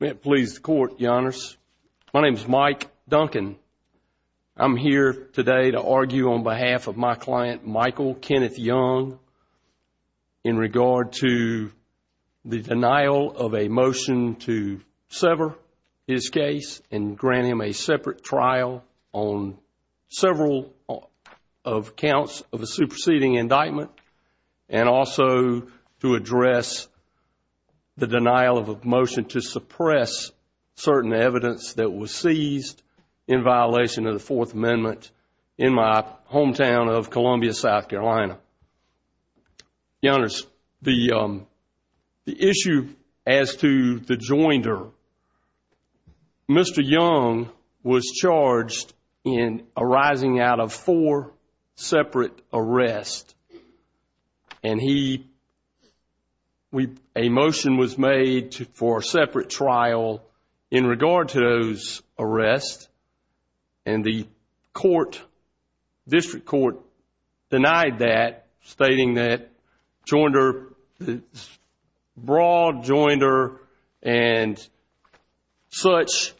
May it please the Court, Your Honors. My name is Mike Duncan. I'm here today to argue on behalf of my client, Michael Kenneth Young, in regard to the denial of a motion to sever his case and grant him a separate trial on several counts of a superseding indictment and also to address the denial of a motion to suppress certain evidence that was seized in violation of the Fourth Amendment in my hometown of Columbia, South Carolina. Your Honors, the issue as to the joinder, Mr. Young was charged in arising out of four separate arrests and he, a motion was made for a separate trial in regard to those arrests and the court, district court, denied that stating that joinder, broad joinder and such,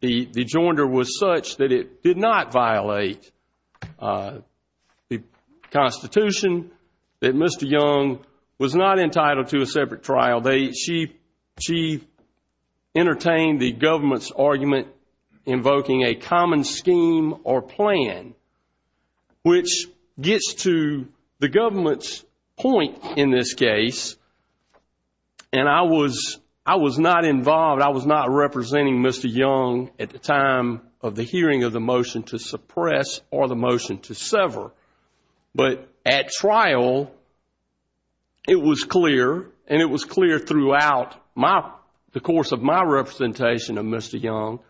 the joinder was such that it did not violate the Constitution, that Mr. Young was not entitled to a separate trial. She entertained the government's argument invoking a common scheme or plan which gets to the government's point in this case and I was not involved, I was not representing Mr. Young at the time of the hearing of the motion to suppress or the motion to sever. But at trial, it was clear and it was clear throughout the course of my representation of Mr. Young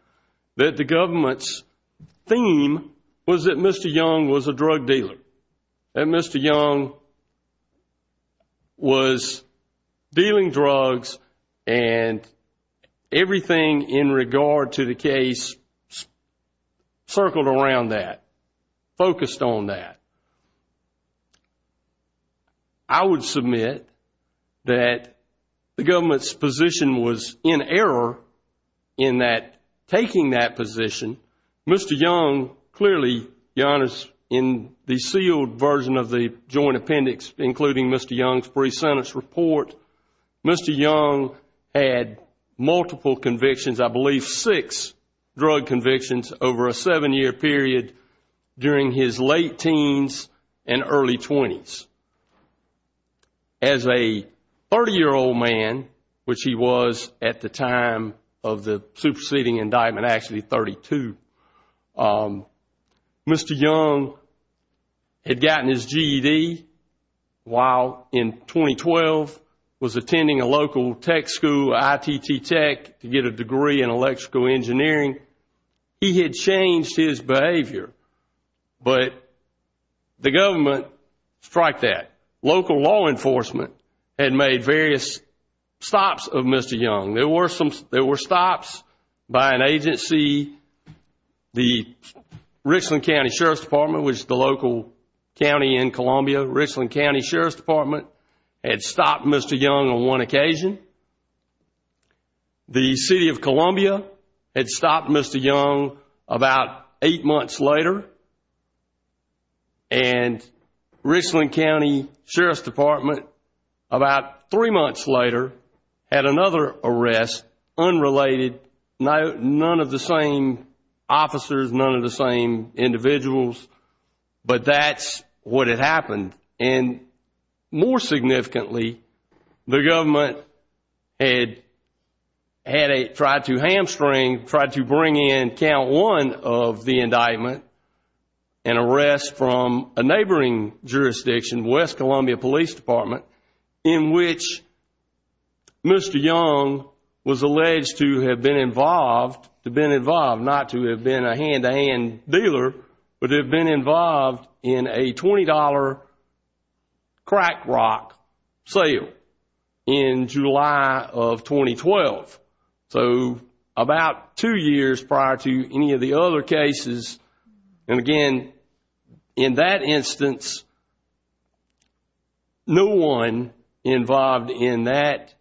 that the government's theme was that Mr. Young was a drug dealer, that Mr. Young, in regard to the case, circled around that, focused on that. I would submit that the government's position was in error in that taking that position, Mr. Young clearly, Your Honors, in the sealed version of the joint appendix including Mr. Young's brief sentence report, Mr. Young had multiple convictions, I believe six drug convictions over a seven year period during his late teens and early twenties. As a 30-year-old man, which he was at the time of the superseding indictment, actually 32, Mr. Young had gotten his GED while in 2012 was attending a local tech school, ITT Tech, to get a degree in electrical engineering. He had changed his behavior, but the government striked that. Local law enforcement had made various stops of Mr. Young. There were stops by an agency, the Richland County Sheriff's Department, which is the local county in Columbia, Richland County Sheriff's Department, had stopped Mr. Young on one occasion. The City of Columbia had stopped Mr. Young about eight months later, and Richland County Sheriff's Department, about three months later, had another arrest, unrelated, none of the same officers, none of the same individuals, but that's what had happened. More significantly, the government had tried to hamstring, tried to bring in count one of the indictment, an arrest from a neighboring jurisdiction, West Columbia Police Department, in which Mr. Young was alleged to have been involved, to have been involved, not to have been a hand-to-hand dealer, but to have been involved in a $20 crack rock sale in July of 2012. So about two years prior to any of the other cases, and again, in that instance, no one involved in that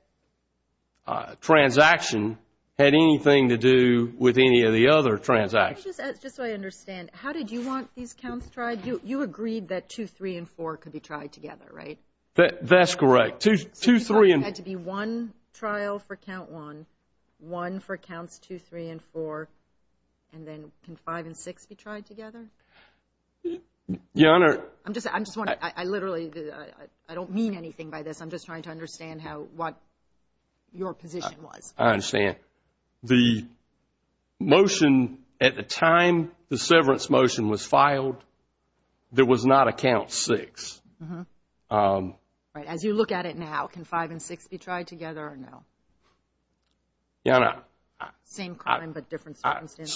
transaction had anything to do with any of the other transactions. Just so I understand, how did you want these counts tried? You agreed that two, three, and four could be tried together, right? That's correct. Two, three, and... together? Your Honor, I'm just, I'm just wondering, I literally, I don't mean anything by this, I'm just trying to understand how, what your position was. I understand. The motion, at the time the severance motion was filed, there was not a count six. Right, as you look at it now, can five and six be tried together or no? Your Honor, I... Same claim, but different circumstances.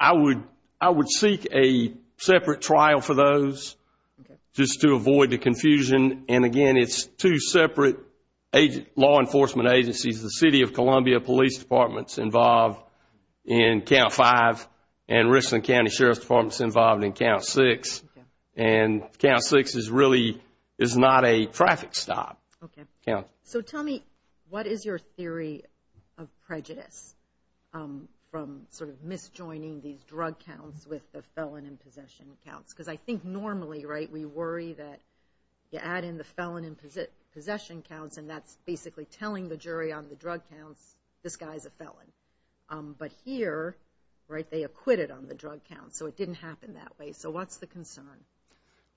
I would, I would seek a separate trial for those, just to avoid the confusion, and again, it's two separate law enforcement agencies. The City of Columbia Police Department's involved in count five, and Richland County Sheriff's Department's involved in count six, and count six is really, is not a traffic stop. Okay. So tell me, what is your theory of prejudice from sort of misjoining these drug counts with the felon in possession counts? Because I think normally, right, we worry that you add in the felon in possession counts, and that's basically telling the jury on the drug counts, this guy's a felon. But here, right, they acquitted on the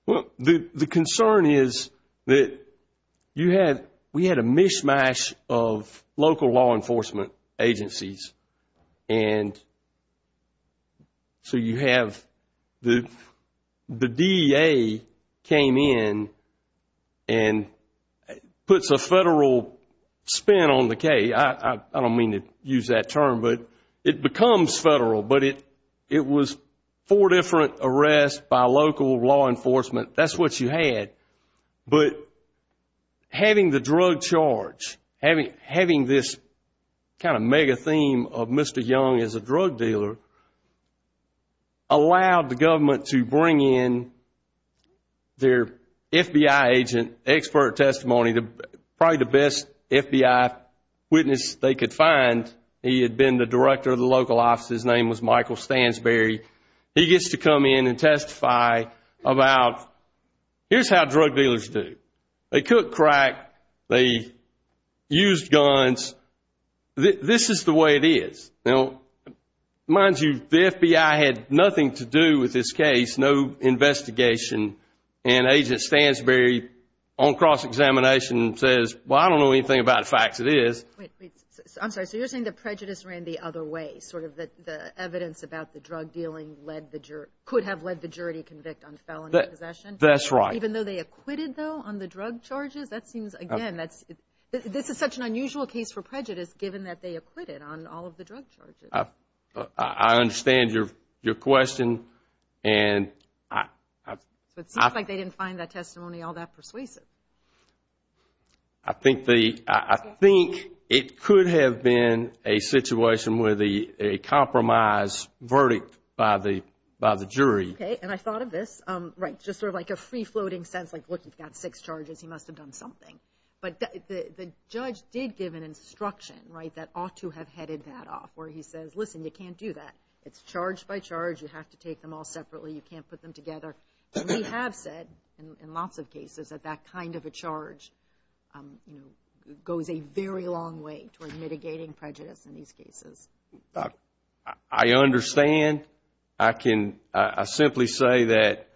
Well, the concern is that you had, we had a mishmash of local law enforcement agencies, and so you have the DEA came in and puts a federal spin on the case. I don't mean to use that term, but it becomes federal, but it was four different arrests by local law enforcement. That's what you had. But having the drug charge, having this kind of mega theme of Mr. Young is a drug dealer, allowed the government to bring in their FBI agent, expert testimony, probably the best FBI witness they could find. He had been the director of the local office. His name was Michael Stansberry. He gets to come in and testify about, here's how drug dealers do. They cook crack, they use guns. This is the way it is. Now, mind you, the FBI had nothing to do with this case, no investigation, and Agent Stansberry on cross-examination says, well, I don't know anything about facts, it is. I'm sorry, so you're saying that prejudice ran the other way, sort of that the evidence about the drug dealing could have led the jury to convict on felony possession? That's right. Even though they acquitted, though, on the drug charges? That seems, again, this is such an unusual case for prejudice, given that they acquitted on all of the drug charges. I understand your question, and... So it seems like they didn't find that testimony all that persuasive. I think it could have been a situation where a compromise verdict by the jury... Okay, and I thought of this, right, just sort of like a free-floating sense, like, look, you've got six charges, he must have done something. But the judge did give an instruction, right, that ought to have headed that off, where he says, listen, you can't do that. It's charge by charge, you have to take them all separately, you can't put them together. We have said, in lots of cases, that that kind of a charge goes a very long way toward mitigating prejudice in these cases. I understand. I can simply say that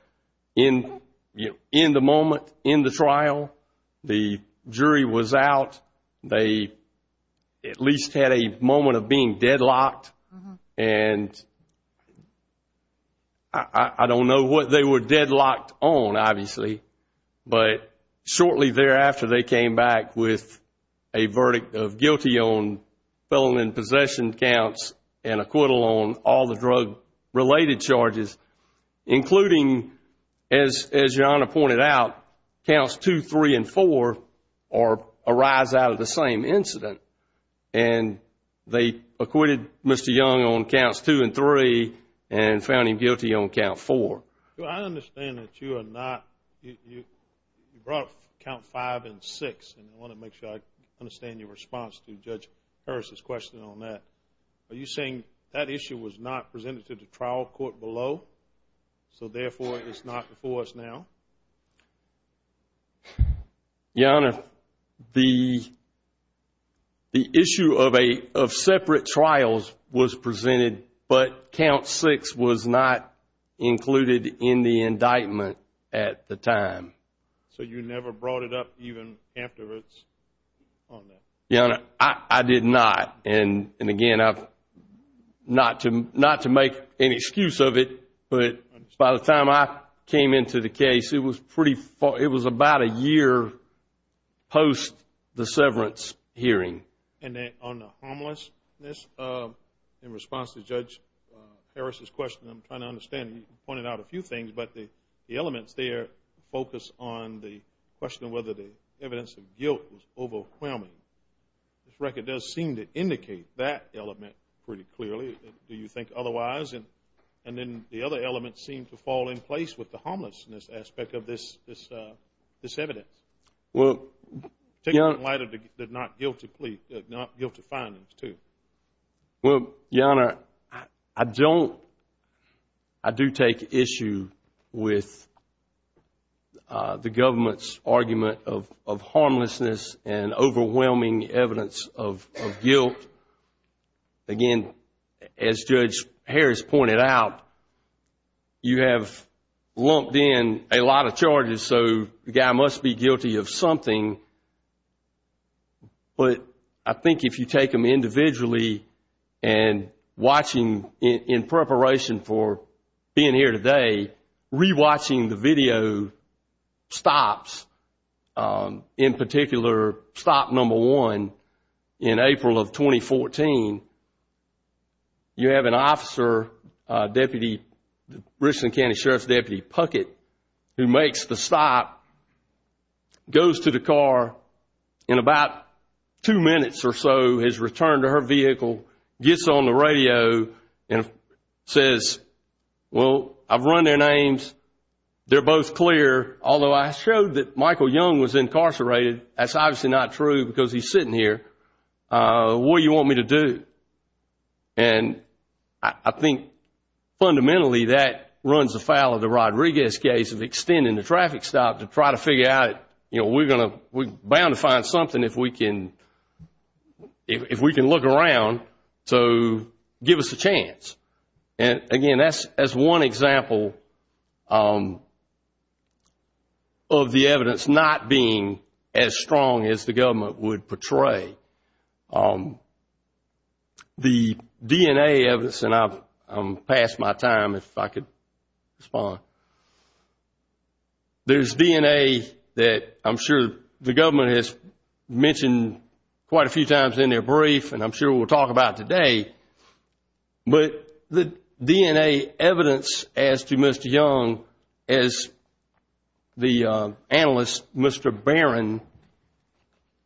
in the moment, in the trial, the jury was out, they at least had a moment of being deadlocked, and I don't know what they were deadlocked on, obviously, but shortly thereafter, they came back with a verdict of guilty on felon and possession counts and acquittal on all the drug-related charges, including, as Your Honor pointed out, counts 2, 3, and 4 arise out of the same incident. And they acquitted Mr. Young on counts 2 and 3 and found him guilty on count 4. Well, I understand that you are not, you brought up count 5 and 6, and I want to make sure I understand your response to Judge Harris's question on that. Are you saying that issue was not presented to the trial court below, so therefore it's not before us now? Your Honor, the issue of separate trials was presented, but count 6 was not included in the indictment at the time. So you never brought it up even after it's on there? Your Honor, I did not, and again, not to make any excuse of it, but by the time I came into the case, it was about a year post the severance hearing. And on the harmlessness in response to Judge Harris's question, I'm trying to understand, you pointed out a few things, but the elements there focus on the question of whether the record does seem to indicate that element pretty clearly. Do you think otherwise, and then the other elements seem to fall in place with the harmlessness aspect of this evidence? Well, Your Honor, I do take issue with the government's argument of harmlessness and overwhelming evidence of guilt. Again, as Judge Harris pointed out, you have lumped in a lot of charges, so the guy must be guilty of something. But I think if you take them individually and watching in preparation for being here today, re-watching the video stops, in particular, stop number one in April of 2014, you have an officer, Deputy, Richland County Sheriff's Deputy Puckett, who makes the stop, goes to the car in about two minutes or so, has returned to her vehicle, gets on the radio, and says, well, I've run their names, they're both clear, although I showed that Michael Young was incarcerated. That's obviously not true because he's sitting here. What do you want me to do? And I think fundamentally that runs afoul of the Rodriguez case of extending the traffic stop to try to figure out, you know, we're bound to find something if we can look around, so give us a chance. And again, that's one example of the evidence not being as strong as the government would portray. The DNA evidence, and I've passed my time, if I could respond. There's DNA that I'm sure the government has mentioned quite a few times in their brief, and I'm sure we'll talk about today, but the DNA evidence as to Mr. Young, as the analyst, Mr. Barron,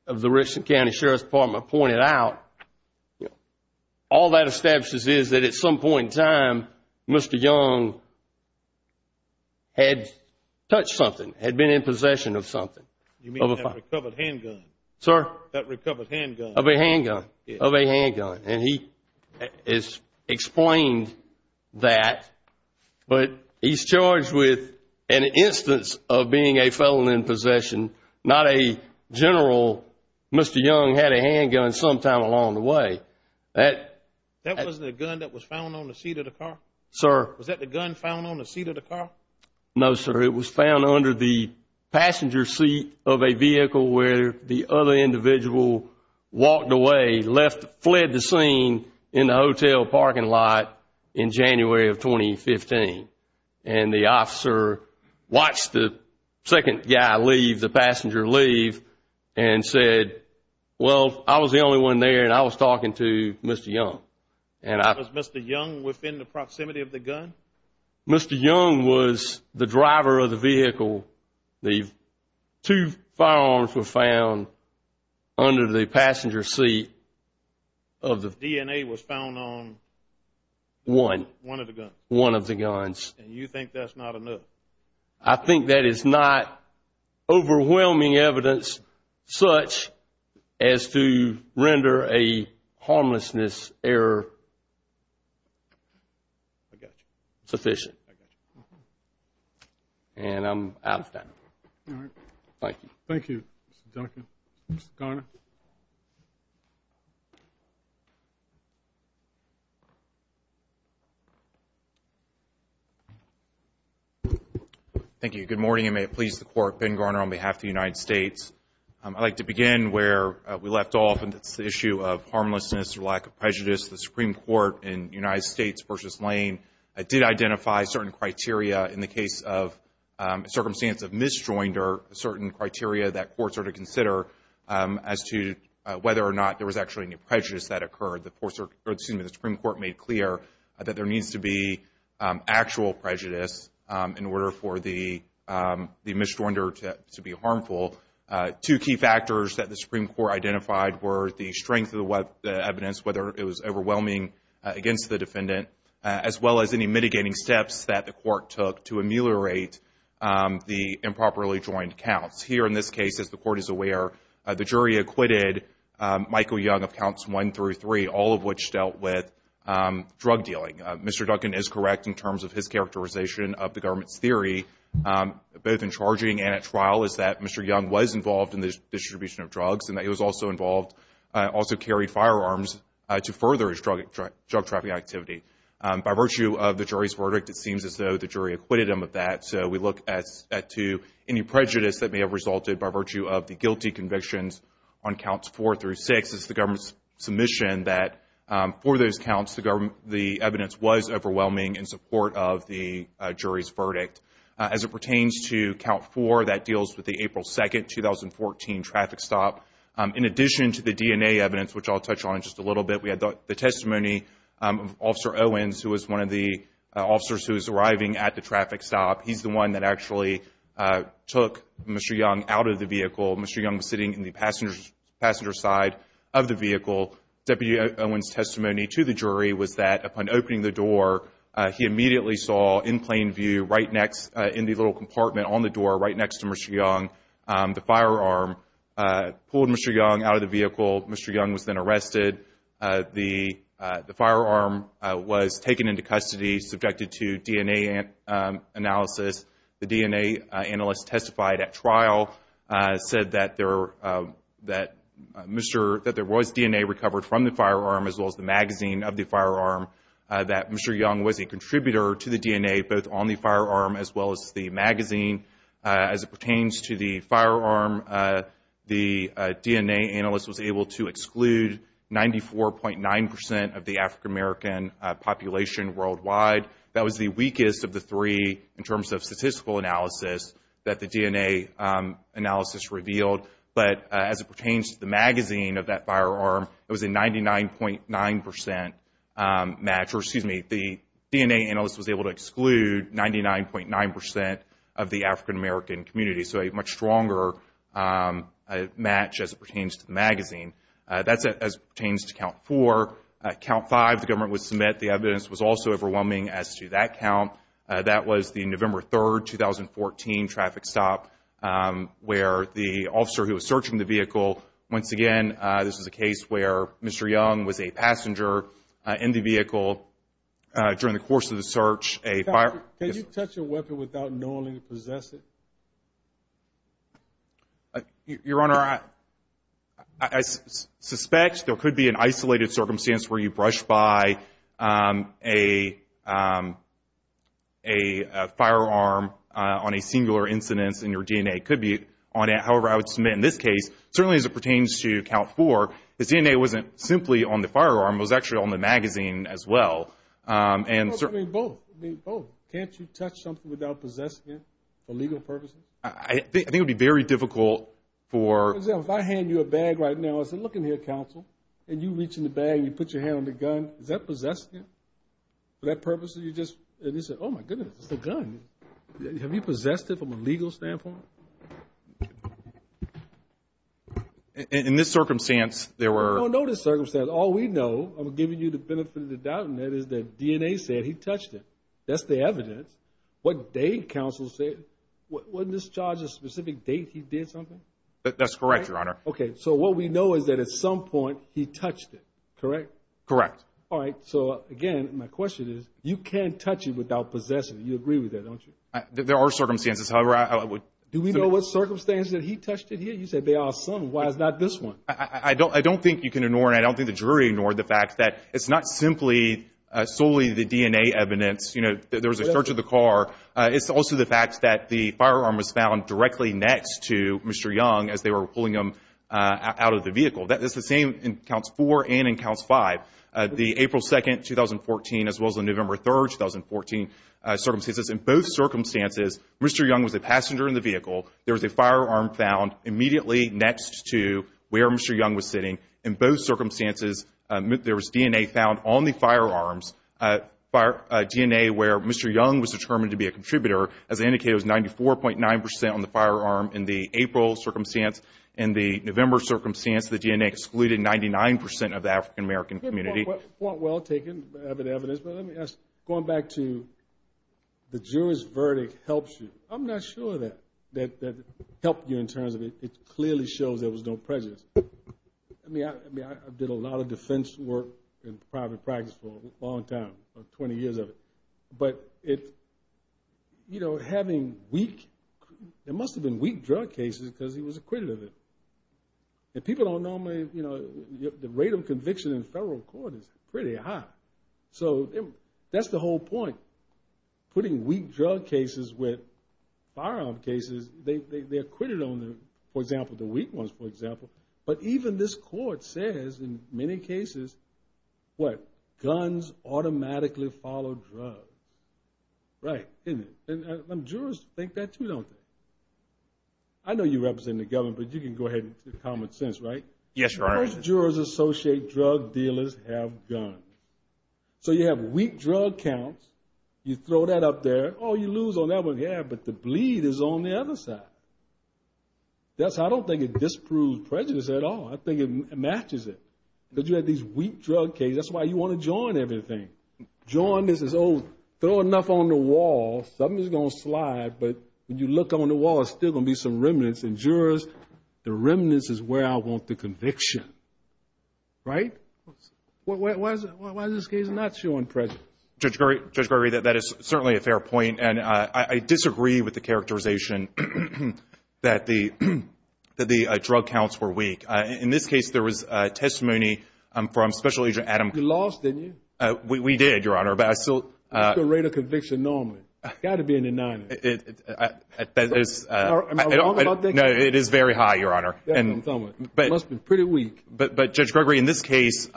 of the Richland County Sheriff's Department pointed out, you know, all that establishes is that at some point in time, Mr. Young had touched something, had been in possession of something. You mean that recovered handgun? Sir? That recovered handgun. Of a handgun. Of a handgun. And he has explained that, but he's charged with an instance of being in possession, not a general. Mr. Young had a handgun sometime along the way. That wasn't a gun that was found on the seat of the car? Sir? Was that the gun found on the seat of the car? No, sir. It was found under the passenger seat of a vehicle where the other individual walked away, left, fled the scene in the hotel parking lot in January of 2015. And the officer watched the second guy leave, the passenger leave, and said, well, I was the only one there, and I was talking to Mr. Young. And was Mr. Young within the proximity of the gun? Mr. Young was the driver of the vehicle. The two firearms were found under the passenger seat of the... DNA was found on... One. One of the guns. One of the guns. And you think that's not enough? I think that is not overwhelming evidence such as to render a harmlessness error... I got you. ...sufficient. And I'm out of time. All right. Thank you. Thank you, Mr. Duncan. Mr. Garner? Thank you. Good morning, and may it please the Court. Ben Garner on behalf of the United States. I'd like to begin where we left off, and that's the issue of harmlessness or lack of prejudice. The Supreme Court in United States v. Lane did identify certain criteria in the case of circumstance of misjoinder, certain criteria that courts are to consider as to whether or not there was actually any prejudice that occurred. The Supreme Court made clear that there needs to be actual prejudice in order for the misjoinder to be harmful. Two key factors that the Supreme Court identified were the strength of the evidence, whether it was overwhelming against the defendant, as well as any mitigating steps that the court took to ameliorate the improperly joined counts. Here in this case, as the Court is aware, the jury acquitted Michael Young of counts one through three, all of which dealt with drug dealing. Mr. Duncan is correct in terms of his characterization of the government's theory, both in charging and at trial, is that Mr. Young was involved in the distribution of drugs, and that he was also involved, also carried firearms to further his drug-trafficking activity. By virtue of the jury's verdict, it seems as though the jury acquitted him of that. So we look to any prejudice that may have resulted by virtue of the guilty convictions on counts four through six. It's the government's submission that, for those counts, the evidence was overwhelming in support of the jury's verdict. As it pertains to count four, that deals with the April 2, 2014, traffic stop. In addition to the DNA evidence, which I'll touch on in just a little bit, we had the testimony of Officer Owens, who was one of the officers who was arriving at the traffic stop. He's the one that actually took Mr. Young out of the vehicle. Mr. Young was sitting in the passenger side of the vehicle. Deputy Owens' testimony to the jury was that, upon opening the door, he immediately saw, in plain view, in the little compartment on the door, right next to Mr. Young, the firearm. Pulled Mr. Young out of the vehicle. Mr. Young was then arrested. The firearm was taken into custody, subjected to DNA analysis. The DNA analyst testified at trial, said that there was DNA recovered from the firearm, as well as the magazine of the firearm, that Mr. Young was a contributor to the DNA, both on the firearm, as well as the magazine. As it pertains to the firearm, the DNA analyst was able to exclude 94.9 percent of the African-American population worldwide. That was the weakest of the three, in terms of statistical analysis, that the DNA analysis revealed. But, as it pertains to the magazine of that firearm, it was a 99.9 percent match. Or, excuse me, the DNA analyst was able to exclude 99.9 percent of the African-American community. So, a much stronger match, as it pertains to the magazine. That's as it pertains to Count 4. Count 5, the government would submit. The evidence was also overwhelming as to that count. That was the November 3, 2014, traffic stop, where the officer who was searching the vehicle. Once again, this is a case where Mr. Young was a passenger in the vehicle during the course of the search. A fire... Can you touch a weapon without knowing to possess it? Your Honor, I suspect there could be an isolated circumstance where you brush by a firearm on a singular incidence, and your DNA could be on it. However, I would submit, in this case, certainly as it pertains to Count 4, the DNA wasn't simply on the firearm. It was actually on the magazine, as well. It could be both. It could be both. Can't you touch something without possessing it, for legal purposes? I think it would be very difficult for... For example, if I hand you a bag right now, and I said, look in here, counsel, and you reach in the bag, and you put your hand on the gun, is that possessive? For that purpose, you just... And you say, oh my goodness, it's a gun. Have you possessed it from a legal standpoint? In this circumstance, there were... I don't know this circumstance. All we know, I'm giving you the benefit of the doubt, and that is that DNA said he touched it. That's the evidence. What date, counsel said, wasn't this charge a specific date he did something? That's correct, Your Honor. Okay. So what we know is that at some point, he touched it, correct? Correct. All right. So again, my question is, you can't touch it without possessing it. You agree with that, don't you? There are circumstances. However, I would... Do we know what circumstances that he touched it here? You said there are some. Why is not this one? I don't think you can ignore, and I don't think the jury ignored the fact that it's not simply solely the DNA evidence. There was a search of the car. It's also the fact that the firearm was found directly next to Mr. Young as they were pulling him out of the vehicle. It's the same in Counts 4 and in Counts 5. The April 2nd, 2014, as well as the November 3rd, 2014 circumstances. In both circumstances, Mr. Young was a passenger in the vehicle. There was a firearm found immediately next to where Mr. Young was sitting. In both circumstances, there was DNA found on the firearms, DNA where Mr. Young was determined to be a contributor. As I indicated, it was 94.9% on the firearm in the April circumstance. In the November circumstance, the DNA excluded 99% of the African-American community. Well taken evidence. But let me ask, going back to the jury's verdict helps you. I'm not sure that helped you in terms of it clearly shows there was no prejudice. I mean, I did a lot of defense work in private practice for a long time, for 20 years of it. But it, you know, having weak, there must have been weak drug cases because he was acquitted of it. And people don't normally, you know, the rate of conviction in federal court is pretty high. So that's the whole point. Putting weak drug cases with firearm cases, they're acquitted on the, for example, the weak ones, for example. But even this court says in many cases, what? Guns automatically follow drugs, right? And jurors think that too, don't they? I know you represent the government, but you can go ahead and common sense, right? Yes, Your Honor. Most jurors associate drug dealers have guns. So you have weak drug counts. You throw that up there. Oh, you lose on that one. Yeah, but the bleed is on the other side. That's how, I don't think it disproves prejudice at all. I think it matches it. Because you have these weak drug cases. That's why you want to join everything. Join this as, oh, throw enough on the wall, something is going to slide. But when you look on the wall, there's still going to be some remnants. And jurors, the remnants is where I want the conviction, right? Why is this case not showing prejudice? Judge Gregory, that is certainly a fair point. And I disagree with the characterization that the drug counts were weak. In this case, there was testimony from Special Agent Adam- You lost, didn't you? We did, Your Honor. But I still- What's the rate of conviction normally? Got to be in the 90s. It is- Am I wrong about that? No, it is very high, Your Honor. Yeah, I'm telling you, it must have been pretty weak. But Judge Gregory, in this case,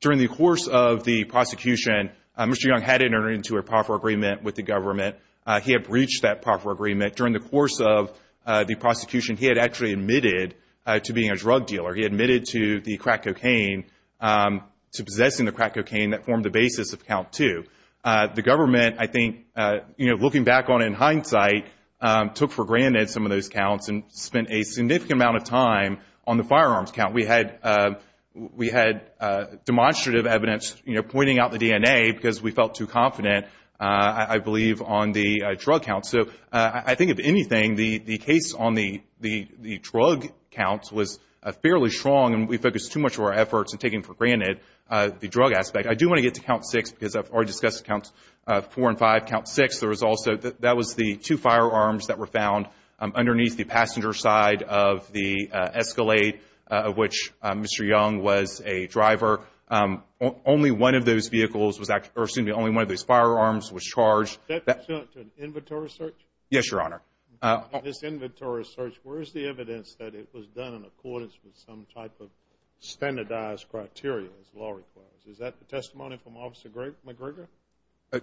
during the course of the prosecution, Mr. Young had entered into a proffer agreement with the government. He had breached that proffer agreement. During the course of the prosecution, he had actually admitted to being a drug dealer. He admitted to the crack cocaine, to possessing the crack cocaine, that formed the basis of count two. The government, I think, looking back on it in hindsight, took for granted some of those counts and spent a significant amount of time on the firearms count. We had demonstrative evidence, you know, pointing out the DNA because we felt too confident, I believe, on the drug count. So I think, if anything, the case on the drug count was fairly strong and we focused too much of our efforts on taking for granted the drug aspect. I do want to get to count six because I've already discussed count four and five. Count six, that was the two firearms that were found underneath the passenger side of the Escalade, of which Mr. Young was a driver. Only one of those vehicles was actually, or excuse me, only one of those firearms was charged. Is that pursuant to an inventory search? Yes, Your Honor. This inventory search, where is the evidence that it was done in accordance with some type of standardized criteria as law requires? Is that the testimony from Officer McGregor?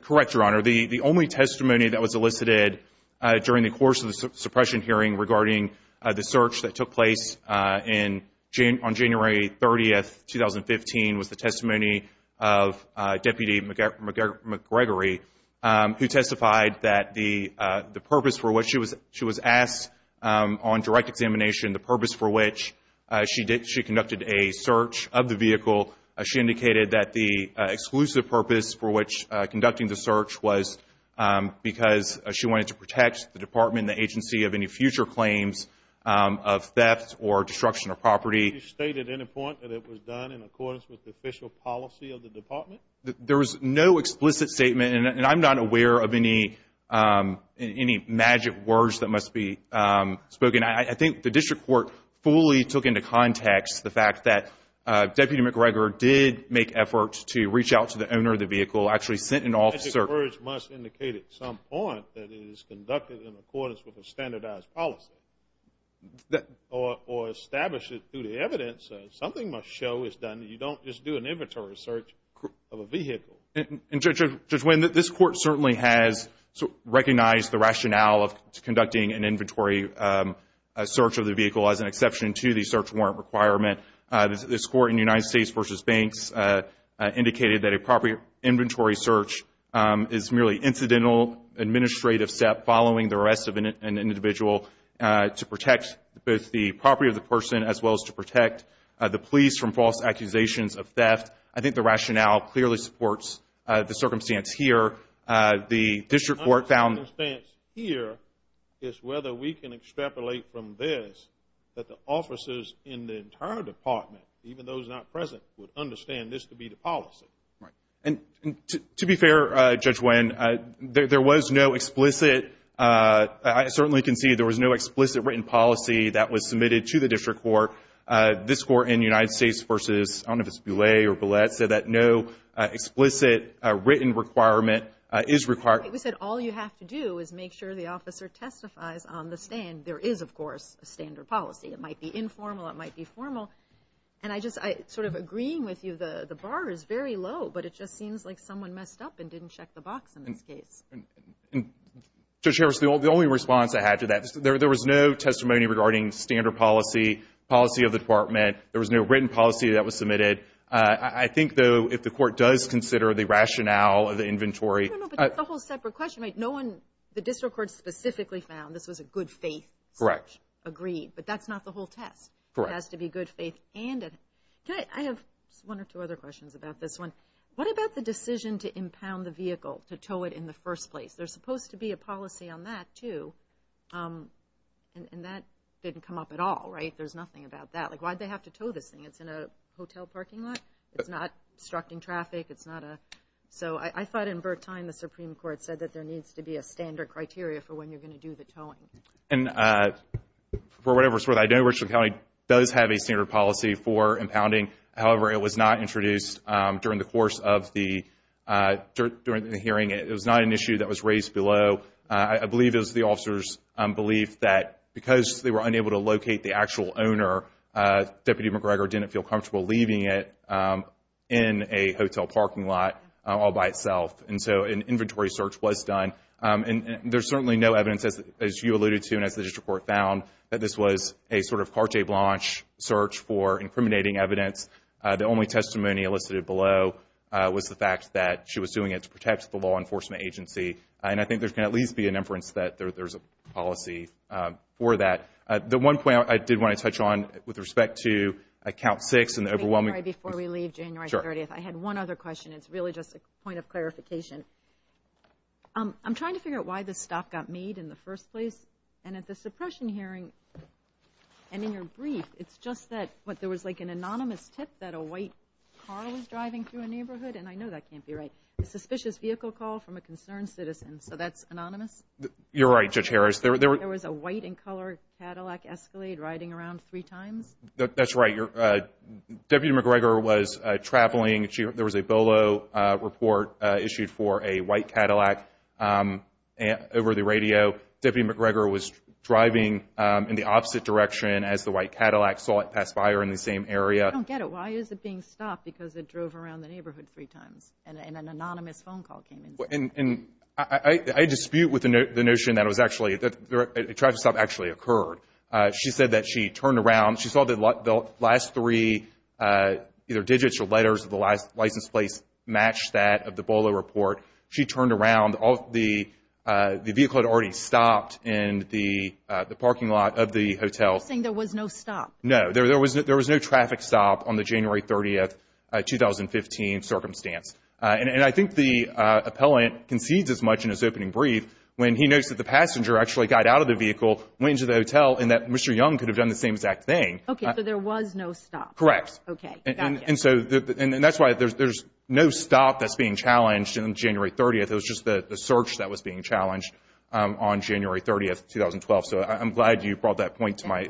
Correct, Your Honor. The only testimony that was elicited during the course of the suppression hearing regarding the search that took place on January 30, 2015, was the testimony of Deputy McGregory, who testified that the purpose for which she was asked on direct examination, the purpose for which she conducted a search of the vehicle, she indicated that the exclusive purpose for which conducting the search was because she wanted to protect the department and the agency of any future claims of theft or destruction of property. Did she state at any point that it was done in accordance with the official policy of the department? There was no explicit statement, and I'm not aware of any magic words that must be spoken. I think the District Court fully took into context the fact that Deputy McGregor did make efforts to reach out to the owner of the vehicle, actually sent an officer. The search must indicate at some point that it is conducted in accordance with a standardized policy, or establish it through the evidence. Something must show it's done. You don't just do an inventory search of a vehicle. Judge Wayne, this Court certainly has recognized the rationale of conducting an inventory search of the vehicle as an exception to the search warrant requirement. This Court in the United States v. Banks indicated that a property inventory search is merely an incidental administrative step following the arrest of an individual to protect both the property of the person, as well as to protect the police from false accusations of theft. I think the rationale clearly supports the circumstance here. The District Court found... The circumstance here is whether we can extrapolate from this that the officers in the entire department, even those not present, would understand this to be the policy. Right. And to be fair, Judge Wayne, there was no explicit... I certainly can see there was no explicit written policy that was submitted to the District Court. This Court in the United States v. I don't know if it's Boulay or Bulette, said that no explicit written requirement is required. We said all you have to do is make sure the officer testifies on the stand. There is, of course, a standard policy. It might be informal. It might be formal. And I just... Sort of agreeing with you, the bar is very low, but it just seems like someone messed up and didn't check the box in this case. Judge Harris, the only response I had to that... There was no testimony regarding standard policy, policy of the department. There was no written policy that was submitted. I think, though, if the Court does consider the rationale of the inventory... I don't know, but that's a whole separate question. No one... The District Court specifically found this was a good faith... Correct. ...agreed. But that's not the whole test. Correct. It has to be good faith and... I have one or two other questions about this one. What about the decision to impound the vehicle, to tow it in the first place? There's supposed to be a policy on that, too. And that didn't come up at all, right? There's nothing about that. Why'd they have to tow this thing? It's in a hotel parking lot. It's not obstructing traffic. It's not a... So I thought in Burt's time the Supreme Court said that there needs to be a standard criteria for when you're going to do the towing. And for whatever it's worth, I know Richland County does have a standard policy for impounding. However, it was not introduced during the course of the hearing. It was not an issue that was raised below, I believe, it was the officer's belief that because they were unable to locate the actual owner, Deputy McGregor didn't feel comfortable leaving it in a hotel parking lot all by itself. And so an inventory search was done. And there's certainly no evidence, as you alluded to, and as the district court found, that this was a sort of carte blanche search for incriminating evidence. The only testimony elicited below was the fact that she was doing it to protect the law enforcement agency. And I think there's going to at least be an inference that there's a policy for that. The one point I did want to touch on with respect to count six and the overwhelming... Before we leave January 30th, I had one other question. It's really just a point of clarification. I'm trying to figure out why the stop got made in the first place. And at the suppression hearing, and in your brief, it's just that there was like an anonymous tip that a white car was driving through a neighborhood. And I know that can't be right. A suspicious vehicle call from a concerned citizen. So that's anonymous? You're right, Judge Harris. There was a white and colored Cadillac Escalade riding around three times? That's right. Deputy McGregor was traveling. There was a Bolo report issued for a white Cadillac over the radio. Deputy McGregor was driving in the opposite direction as the white Cadillac saw it pass by her in the same area. I don't get it. Why is it being stopped? Because it drove around the neighborhood three times and an anonymous phone call came in. And I dispute with the notion that it was actually... That the traffic stop actually occurred. She said that she turned around. She saw the last three either digits or letters of the license plate match that of the Bolo report. She turned around. The vehicle had already stopped in the parking lot of the hotel. You're saying there was no stop? No, there was no traffic stop on the January 30, 2015 circumstance. And I think the appellant concedes as much in his opening brief when he notes that the passenger actually got out of the vehicle, went into the hotel, and that Mr. Young could have done the same exact thing. Okay, so there was no stop. Correct. Okay, gotcha. And that's why there's no stop that's being challenged on January 30. It was just the search that was being challenged on January 30, 2012. So I'm glad you brought that point to my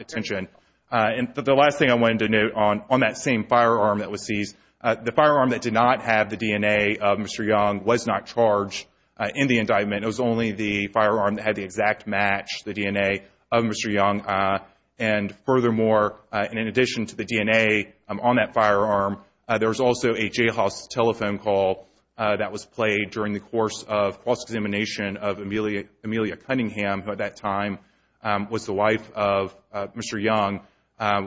attention. And the last thing I wanted to note on that same firearm that was seized, the firearm that did not have the DNA of Mr. Young was not charged in the indictment. It was only the firearm that had the exact match, the DNA of Mr. Young. And furthermore, in addition to the DNA on that firearm, there was also a jailhouse telephone call that was played during the course of cross-examination of Amelia Cunningham, who at that time was the wife of Mr. Young,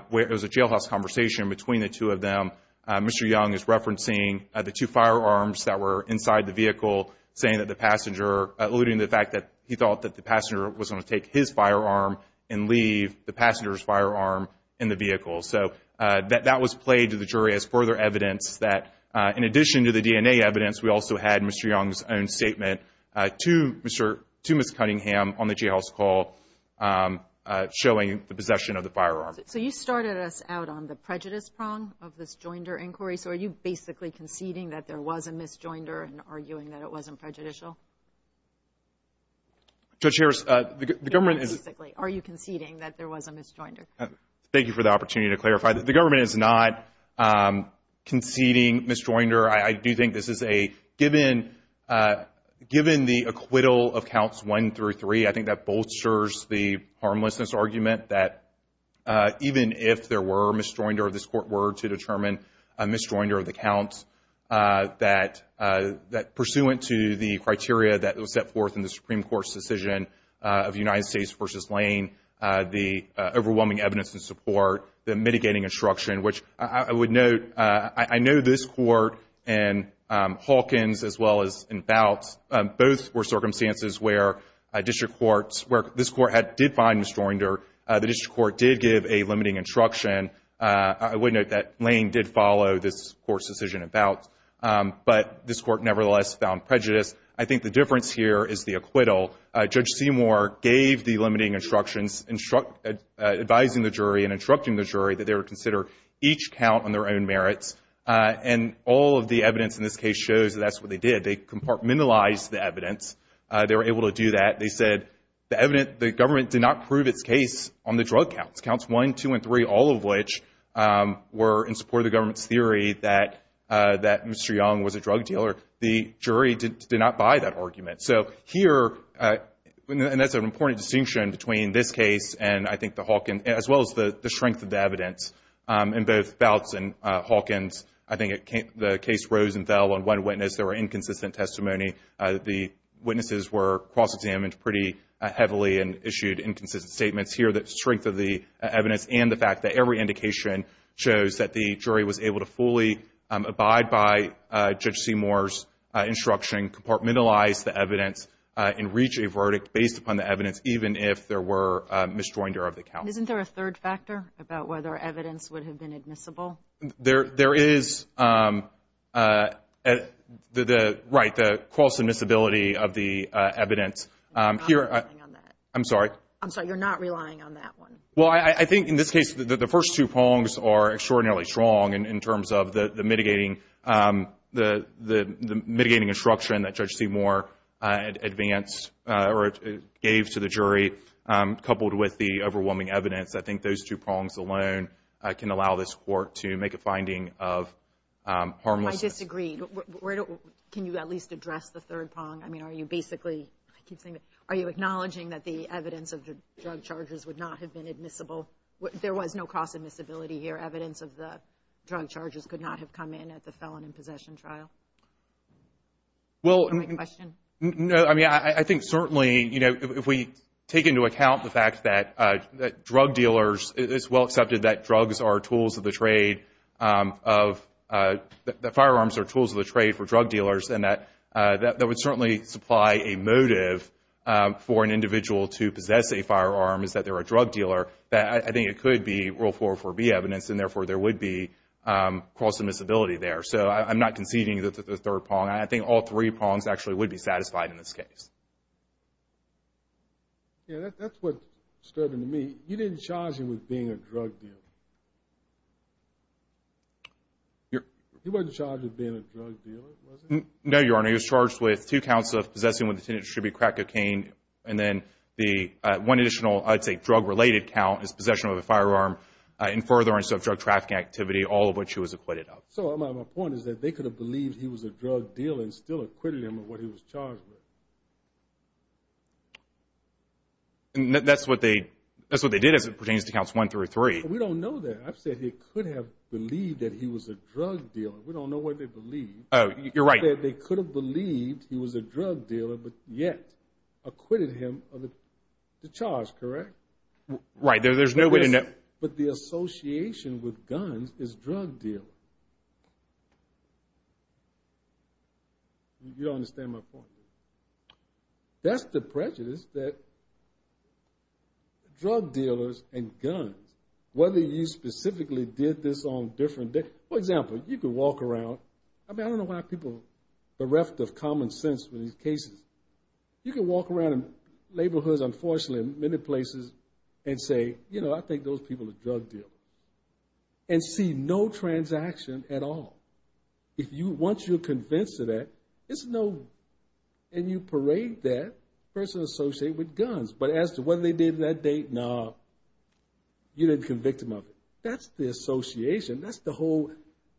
where there was a jailhouse conversation between the two of them. Mr. Young is referencing the two firearms that were inside the vehicle, saying that alluding to the fact that he thought that the passenger was going to take his firearm and leave the passenger's firearm in the vehicle. So that was played to the jury as further evidence that, in addition to the DNA evidence, we also had Mr. Young's own statement to Ms. Cunningham on the jailhouse call showing the possession of the firearm. So you started us out on the prejudice prong of this joinder inquiry. So are you basically conceding that there was a mis-joinder and arguing that it wasn't prejudicial? Judge Harris, the government is... Basically, are you conceding that there was a mis-joinder? Thank you for the opportunity to clarify that the government is not conceding mis-joinder. I do think this is a, given the acquittal of counts one through three, I think that bolsters the harmlessness argument that even if there were mis-joinder of this court were to determine a mis-joinder of the counts that pursuant to the criteria that was set forth in the Supreme Court's decision of United States v. Lane, the overwhelming evidence and support, the mitigating instruction, which I would note, I know this court and Hawkins as well as in Bout, both were circumstances where district courts, where this court did find mis-joinder, the district court did give a limiting instruction. I would note that Lane did follow this court's decision in Bout, but this court nevertheless found prejudice. I think the difference here is the acquittal. Judge Seymour gave the limiting instructions, advising the jury and instructing the jury that they would consider each count on their own merits, and all of the evidence in this case shows that that's what they did. They compartmentalized the evidence. They were able to do that. They said the government did not prove its case on the drug counts, counts one, two, and three, all of which were in support of the government's theory that Mr. Young was a drug dealer. The jury did not buy that argument. So here, and that's an important distinction between this case and I think the Hawkins, as well as the strength of the evidence in both Bouts and Hawkins, I think the case rose and fell on one witness. There were inconsistent testimony. The witnesses were cross-examined pretty heavily and issued inconsistent statements. Here, the strength of the evidence and the fact that every indication shows that the jury was able to fully abide by Judge Seymour's instruction, compartmentalize the evidence, and reach a verdict based upon the evidence, even if there were a misjoinder of the count. Isn't there a third factor about whether evidence would have been admissible? There is. Right, the cross-admissibility of the evidence. I'm sorry? I'm sorry, you're not relying on that one. Well, I think in this case, the first two prongs are extraordinarily strong in terms of the mitigating instruction that Judge Seymour advanced or gave to the jury, coupled with the overwhelming evidence. I think those two prongs alone can allow this court to make a finding of harmlessness. I disagree. Can you at least address the third prong? I mean, are you acknowledging that the evidence of the drug charges would not have been admissible? There was no cross-admissibility here. Evidence of the drug charges could not have come in at the felon in possession trial. Well, I mean, I think certainly, you know, if we take into account the fact that drug dealers, it's well accepted that drugs are tools of the trade, that firearms are tools of the trade for supply a motive for an individual to possess a firearm is that they're a drug dealer, that I think it could be Rule 404B evidence, and therefore there would be cross-admissibility there. So I'm not conceding that the third prong, I think all three prongs actually would be satisfied in this case. Yeah, that's what stood out to me. He didn't charge him with being a drug dealer. He wasn't charged with being a drug dealer, was he? No, Your Honor. He was charged with two counts of possessing with the intent to distribute crack cocaine, and then the one additional, I'd say, drug-related count is possession of a firearm in furtherance of drug trafficking activity, all of which he was acquitted of. So my point is that they could have believed he was a drug dealer and still acquitted him of what he was charged with. That's what they did as it pertains to counts one through three. We don't know that. I've said he could have believed that he was a drug dealer. We don't know what they believed. Oh, you're right. They could have believed he was a drug dealer, but yet acquitted him of the charge, correct? Right, there's no way to know. But the association with guns is drug dealing. You don't understand my point. That's the prejudice that drug dealers and guns, whether you specifically did this on a different day, for example, you could walk around. I mean, I don't know why people are bereft of common sense with these cases. You can walk around in neighborhoods, unfortunately, in many places and say, you know, I think those people are drug dealers, and see no transaction at all. Once you're convinced of that, it's no, and you parade that person associated with guns. But as to whether they did it that day, no, you didn't convict them of it. That's the association. That's the whole,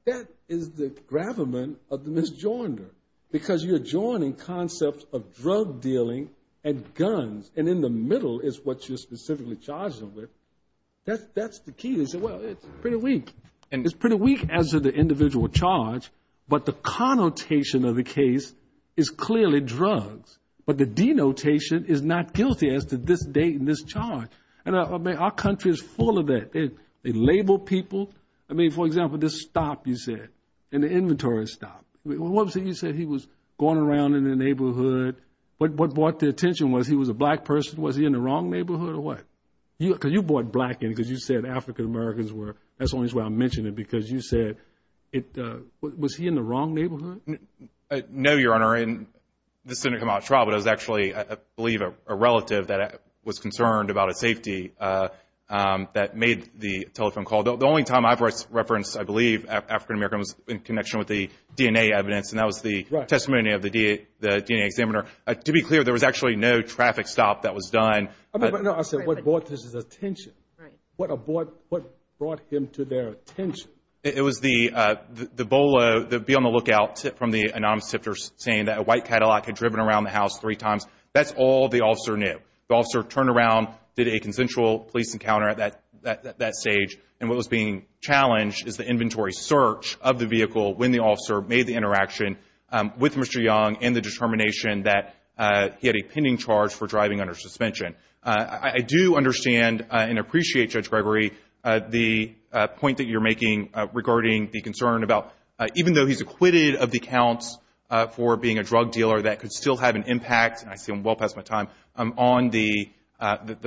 that is the gravamen of the misjoinder, because you're joining concepts of drug dealing and guns, and in the middle is what you're specifically charged them with. That's the key. They say, well, it's pretty weak. And it's pretty weak as to the individual charge. But the connotation of the case is clearly drugs. But the denotation is not guilty as to this date and this charge. And I mean, our country is full of that. They label people. I mean, for example, this stop, you said, and the inventory stop. What was it you said? He was going around in the neighborhood. But what brought the attention was he was a black person. Was he in the wrong neighborhood or what? Because you brought black in, because you said African-Americans were, that's the only reason why I mentioned it, because you said, was he in the wrong neighborhood? No, Your Honor. And this didn't come out of trial, but it was actually, I believe, a relative that was concerned about his safety that made the telephone call. The only time I've referenced, I believe, African-American was in connection with the DNA evidence. And that was the testimony of the DNA examiner. To be clear, there was actually no traffic stop that was done. But I said, what brought his attention? What brought him to their attention? It was the BOLO, the be on the lookout tip from the anonymous tipter saying that a white Cadillac had driven around the house three times. That's all the officer knew. The officer turned around, did a consensual police encounter at that stage. And what was being challenged is the inventory search of the vehicle when the officer made the interaction with Mr. Young and the determination that he had a pending charge for driving under suspension. I do understand and appreciate, Judge Gregory, the point that you're making regarding the concern about, even though he's acquitted of the counts for being a drug dealer that could still have an impact, and I see I'm well past my time, on the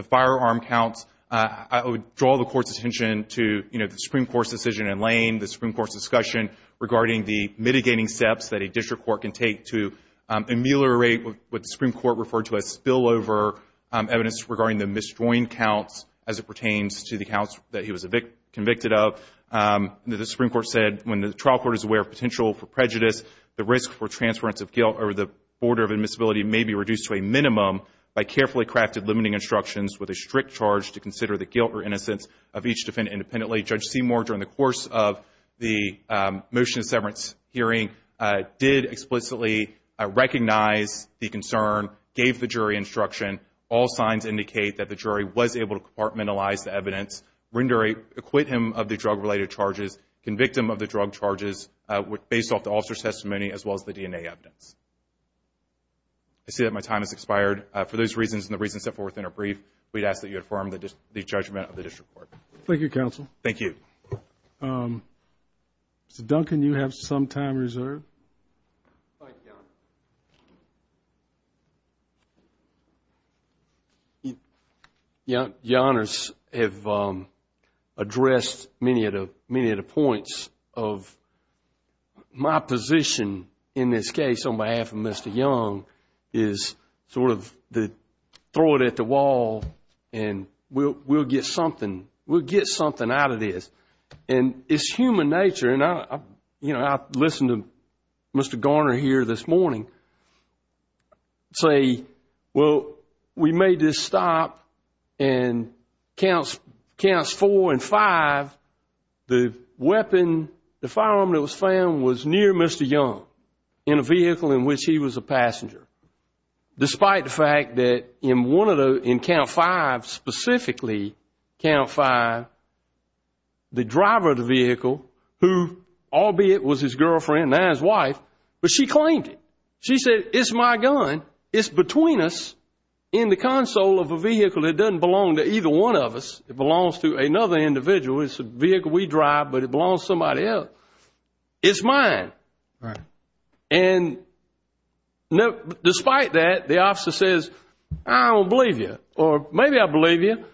firearm counts. I would draw the Court's attention to the Supreme Court's decision in Lane, the Supreme Court's discussion regarding the mitigating steps that a district court can take to ameliorate what the Supreme Court referred to as spillover evidence regarding the misjoined counts as it pertains to the counts that he was convicted of. The Supreme Court said, when the trial court is aware of potential for prejudice, the risk for transference of guilt over the order of admissibility may be reduced to a minimum by carefully crafted limiting instructions with a strict charge to consider the guilt or innocence of each defendant independently. Judge Seymour, during the course of the motion of severance hearing, did explicitly recognize the concern, gave the jury instruction. All signs indicate that the jury was able to compartmentalize the evidence, render a acquit him of the drug-related charges, convict him of the drug charges based off the officer's testimony as well as the DNA evidence. I see that my time has expired. For those reasons and the reasons set forth in our brief, we'd ask that you affirm the judgment of the district court. Thank you, counsel. Thank you. Mr. Duncan, you have some time reserved. Thank you. Your honors have addressed many of the points of my position in this case on behalf of Mr. Young is sort of the throw it at the wall and we'll get something out of this. And it's human nature and I, you know, I listened to Mr. Garner here this morning say, well, we made this stop and counts four and five, the weapon, the firearm that was found was near Mr. Young in a vehicle in which he was a passenger. Despite the fact that in one of the, in count five specifically, count five, the driver of the vehicle who, albeit was his girlfriend, now his wife, but she claimed it. She said, it's my gun. It's between us in the console of a vehicle. It doesn't belong to either one of us. It belongs to another individual. It's a vehicle we drive, but it belongs to somebody else. It's mine. Right. And despite that, the officer says, I don't believe you, or maybe I believe you,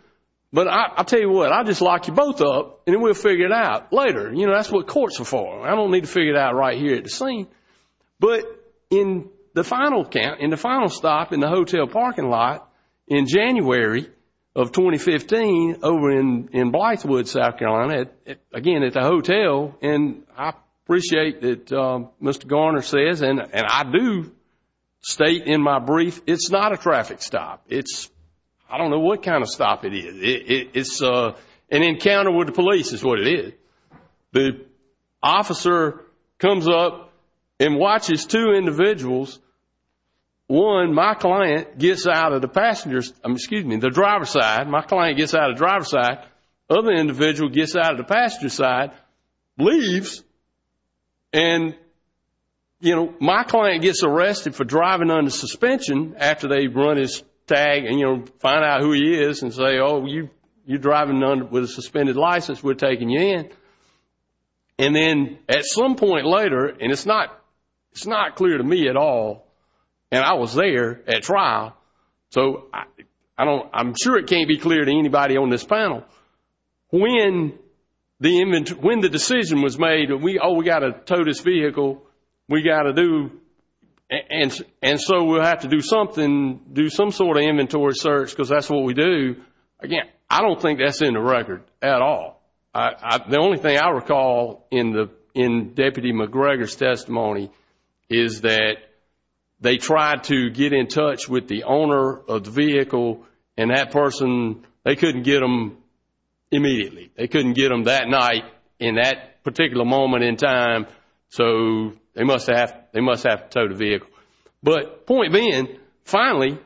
but I'll tell you what, I'll just lock you both up and then we'll figure it out later. You know, that's what courts are for. I don't need to figure it out right here at the scene. But in the final count, in the final stop in the hotel parking lot in January of 2015 over in Blythewood, South Carolina, again, at the hotel, and I appreciate that Mr. Garner says, and I do state in my brief, it's not a traffic stop. I don't know what kind of stop it is. An encounter with the police is what it is. The officer comes up and watches two individuals. One, my client, gets out of the passenger's, excuse me, the driver's side. My client gets out of the driver's side. Other individual gets out of the passenger's side, leaves, and, you know, my client gets arrested for driving under suspension after they run his tag and, you know, find out who he is and say, oh, you're driving with a suspended license. We're taking you in. And then at some point later, and it's not clear to me at all, and I was there at trial, so I don't, I'm sure it can't be clear to anybody on this panel, when the decision was made, oh, we got to tow this vehicle, we got to do, and so we'll have to do something, do some sort of inventory search because that's what we do, again, I don't think that's in the record at all. The only thing I recall in Deputy McGregor's testimony is that they tried to get in touch with the owner of the vehicle and that person, they couldn't get them immediately. They couldn't get them that night in that particular moment in time, so they must have to tow the vehicle. But point being, finally,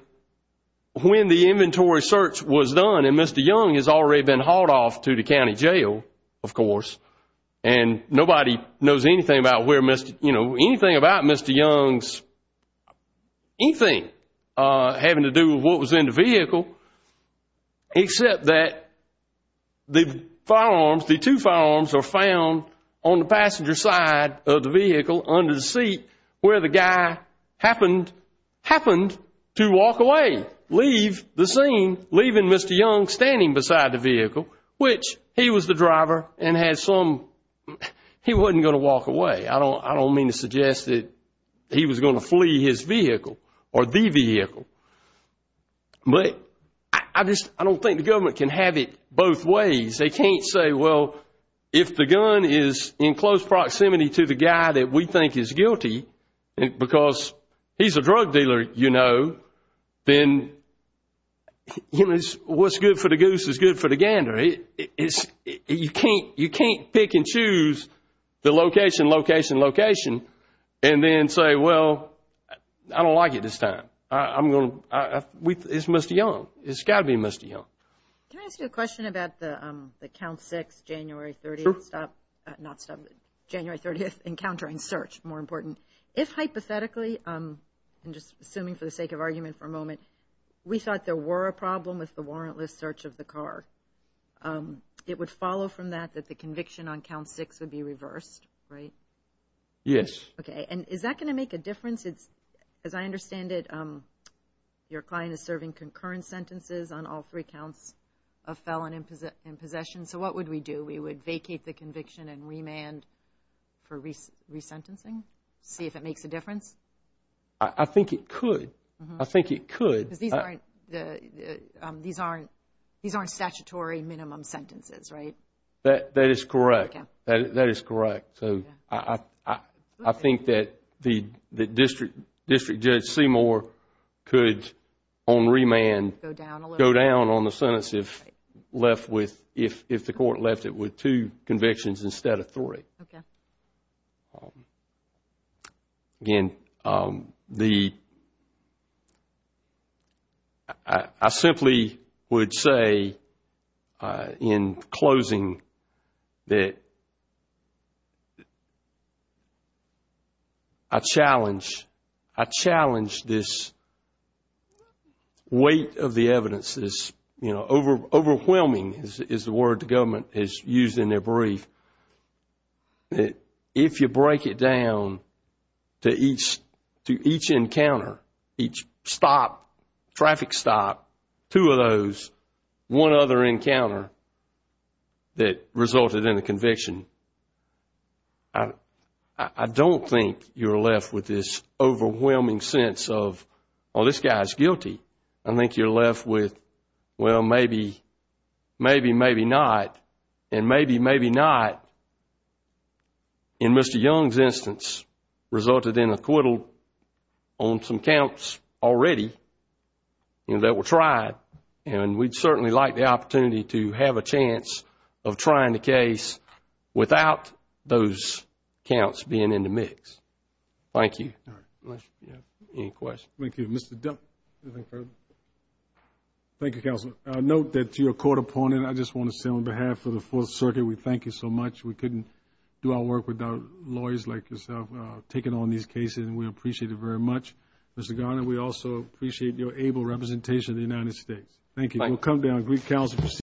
when the inventory search was done and Mr. Young has already been hauled off to the county jail, of course, and nobody knows anything about where Mr., anything having to do with what was in the vehicle, except that the firearms, the two firearms are found on the passenger side of the vehicle under the seat where the guy happened to walk away, leave the scene, leaving Mr. Young standing beside the vehicle, which he was the driver and had some, he wasn't going to walk away. I don't mean to suggest that he was going to flee his vehicle or the vehicle. But I just, I don't think the government can have it both ways. They can't say, well, if the gun is in close proximity to the guy that we think is guilty because he's a drug dealer, you know, then what's good for the goose is good for the gander. It's, you can't, you can't pick and choose the location, location, location, and then say, well, I don't like it this time. I'm going to, it's Mr. Young. It's got to be Mr. Young. Can I ask you a question about the count six, January 30th stop, not stop, January 30th encountering search, more important. If hypothetically, I'm just assuming for the sake of argument for a moment, we thought there were a problem with the warrantless search of the car. It would follow from that, that the conviction on count six would be reversed, right? Yes. Okay. And is that going to make a difference? It's, as I understand it, your client is serving concurrent sentences on all three counts of felon in possession. So what would we do? We would vacate the conviction and remand for resentencing? See if it makes a difference? I think it could. I think it could. These aren't statutory minimum sentences, right? That is correct. That is correct. So I think that the district judge Seymour could on remand go down on the sentence if the court left it with two convictions instead of three. Okay. Again, I simply would say in closing that I challenge this weight of the evidence. Overwhelming is the word the government has used in their brief. If you break it down to each encounter, each stop, traffic stop, two of those, one other encounter that resulted in a conviction, I don't think you're left with this overwhelming sense of, oh, this guy's guilty. I think you're left with, well, maybe, maybe, maybe not. And maybe, maybe not. In Mr. Young's instance, resulted in acquittal on some counts already that were tried. And we'd certainly like the opportunity to have a chance of trying the case without those counts being in the mix. Thank you. Any questions? Thank you. Mr. Dunn, anything further? Thank you, Counselor. Note that you're a court opponent. I just want to say on behalf of the Fourth Circuit, we thank you so much. We couldn't do our work without lawyers like yourself taking on these cases, and we appreciate it very much. Mr. Garner, we also appreciate your able representation of the United States. Thank you.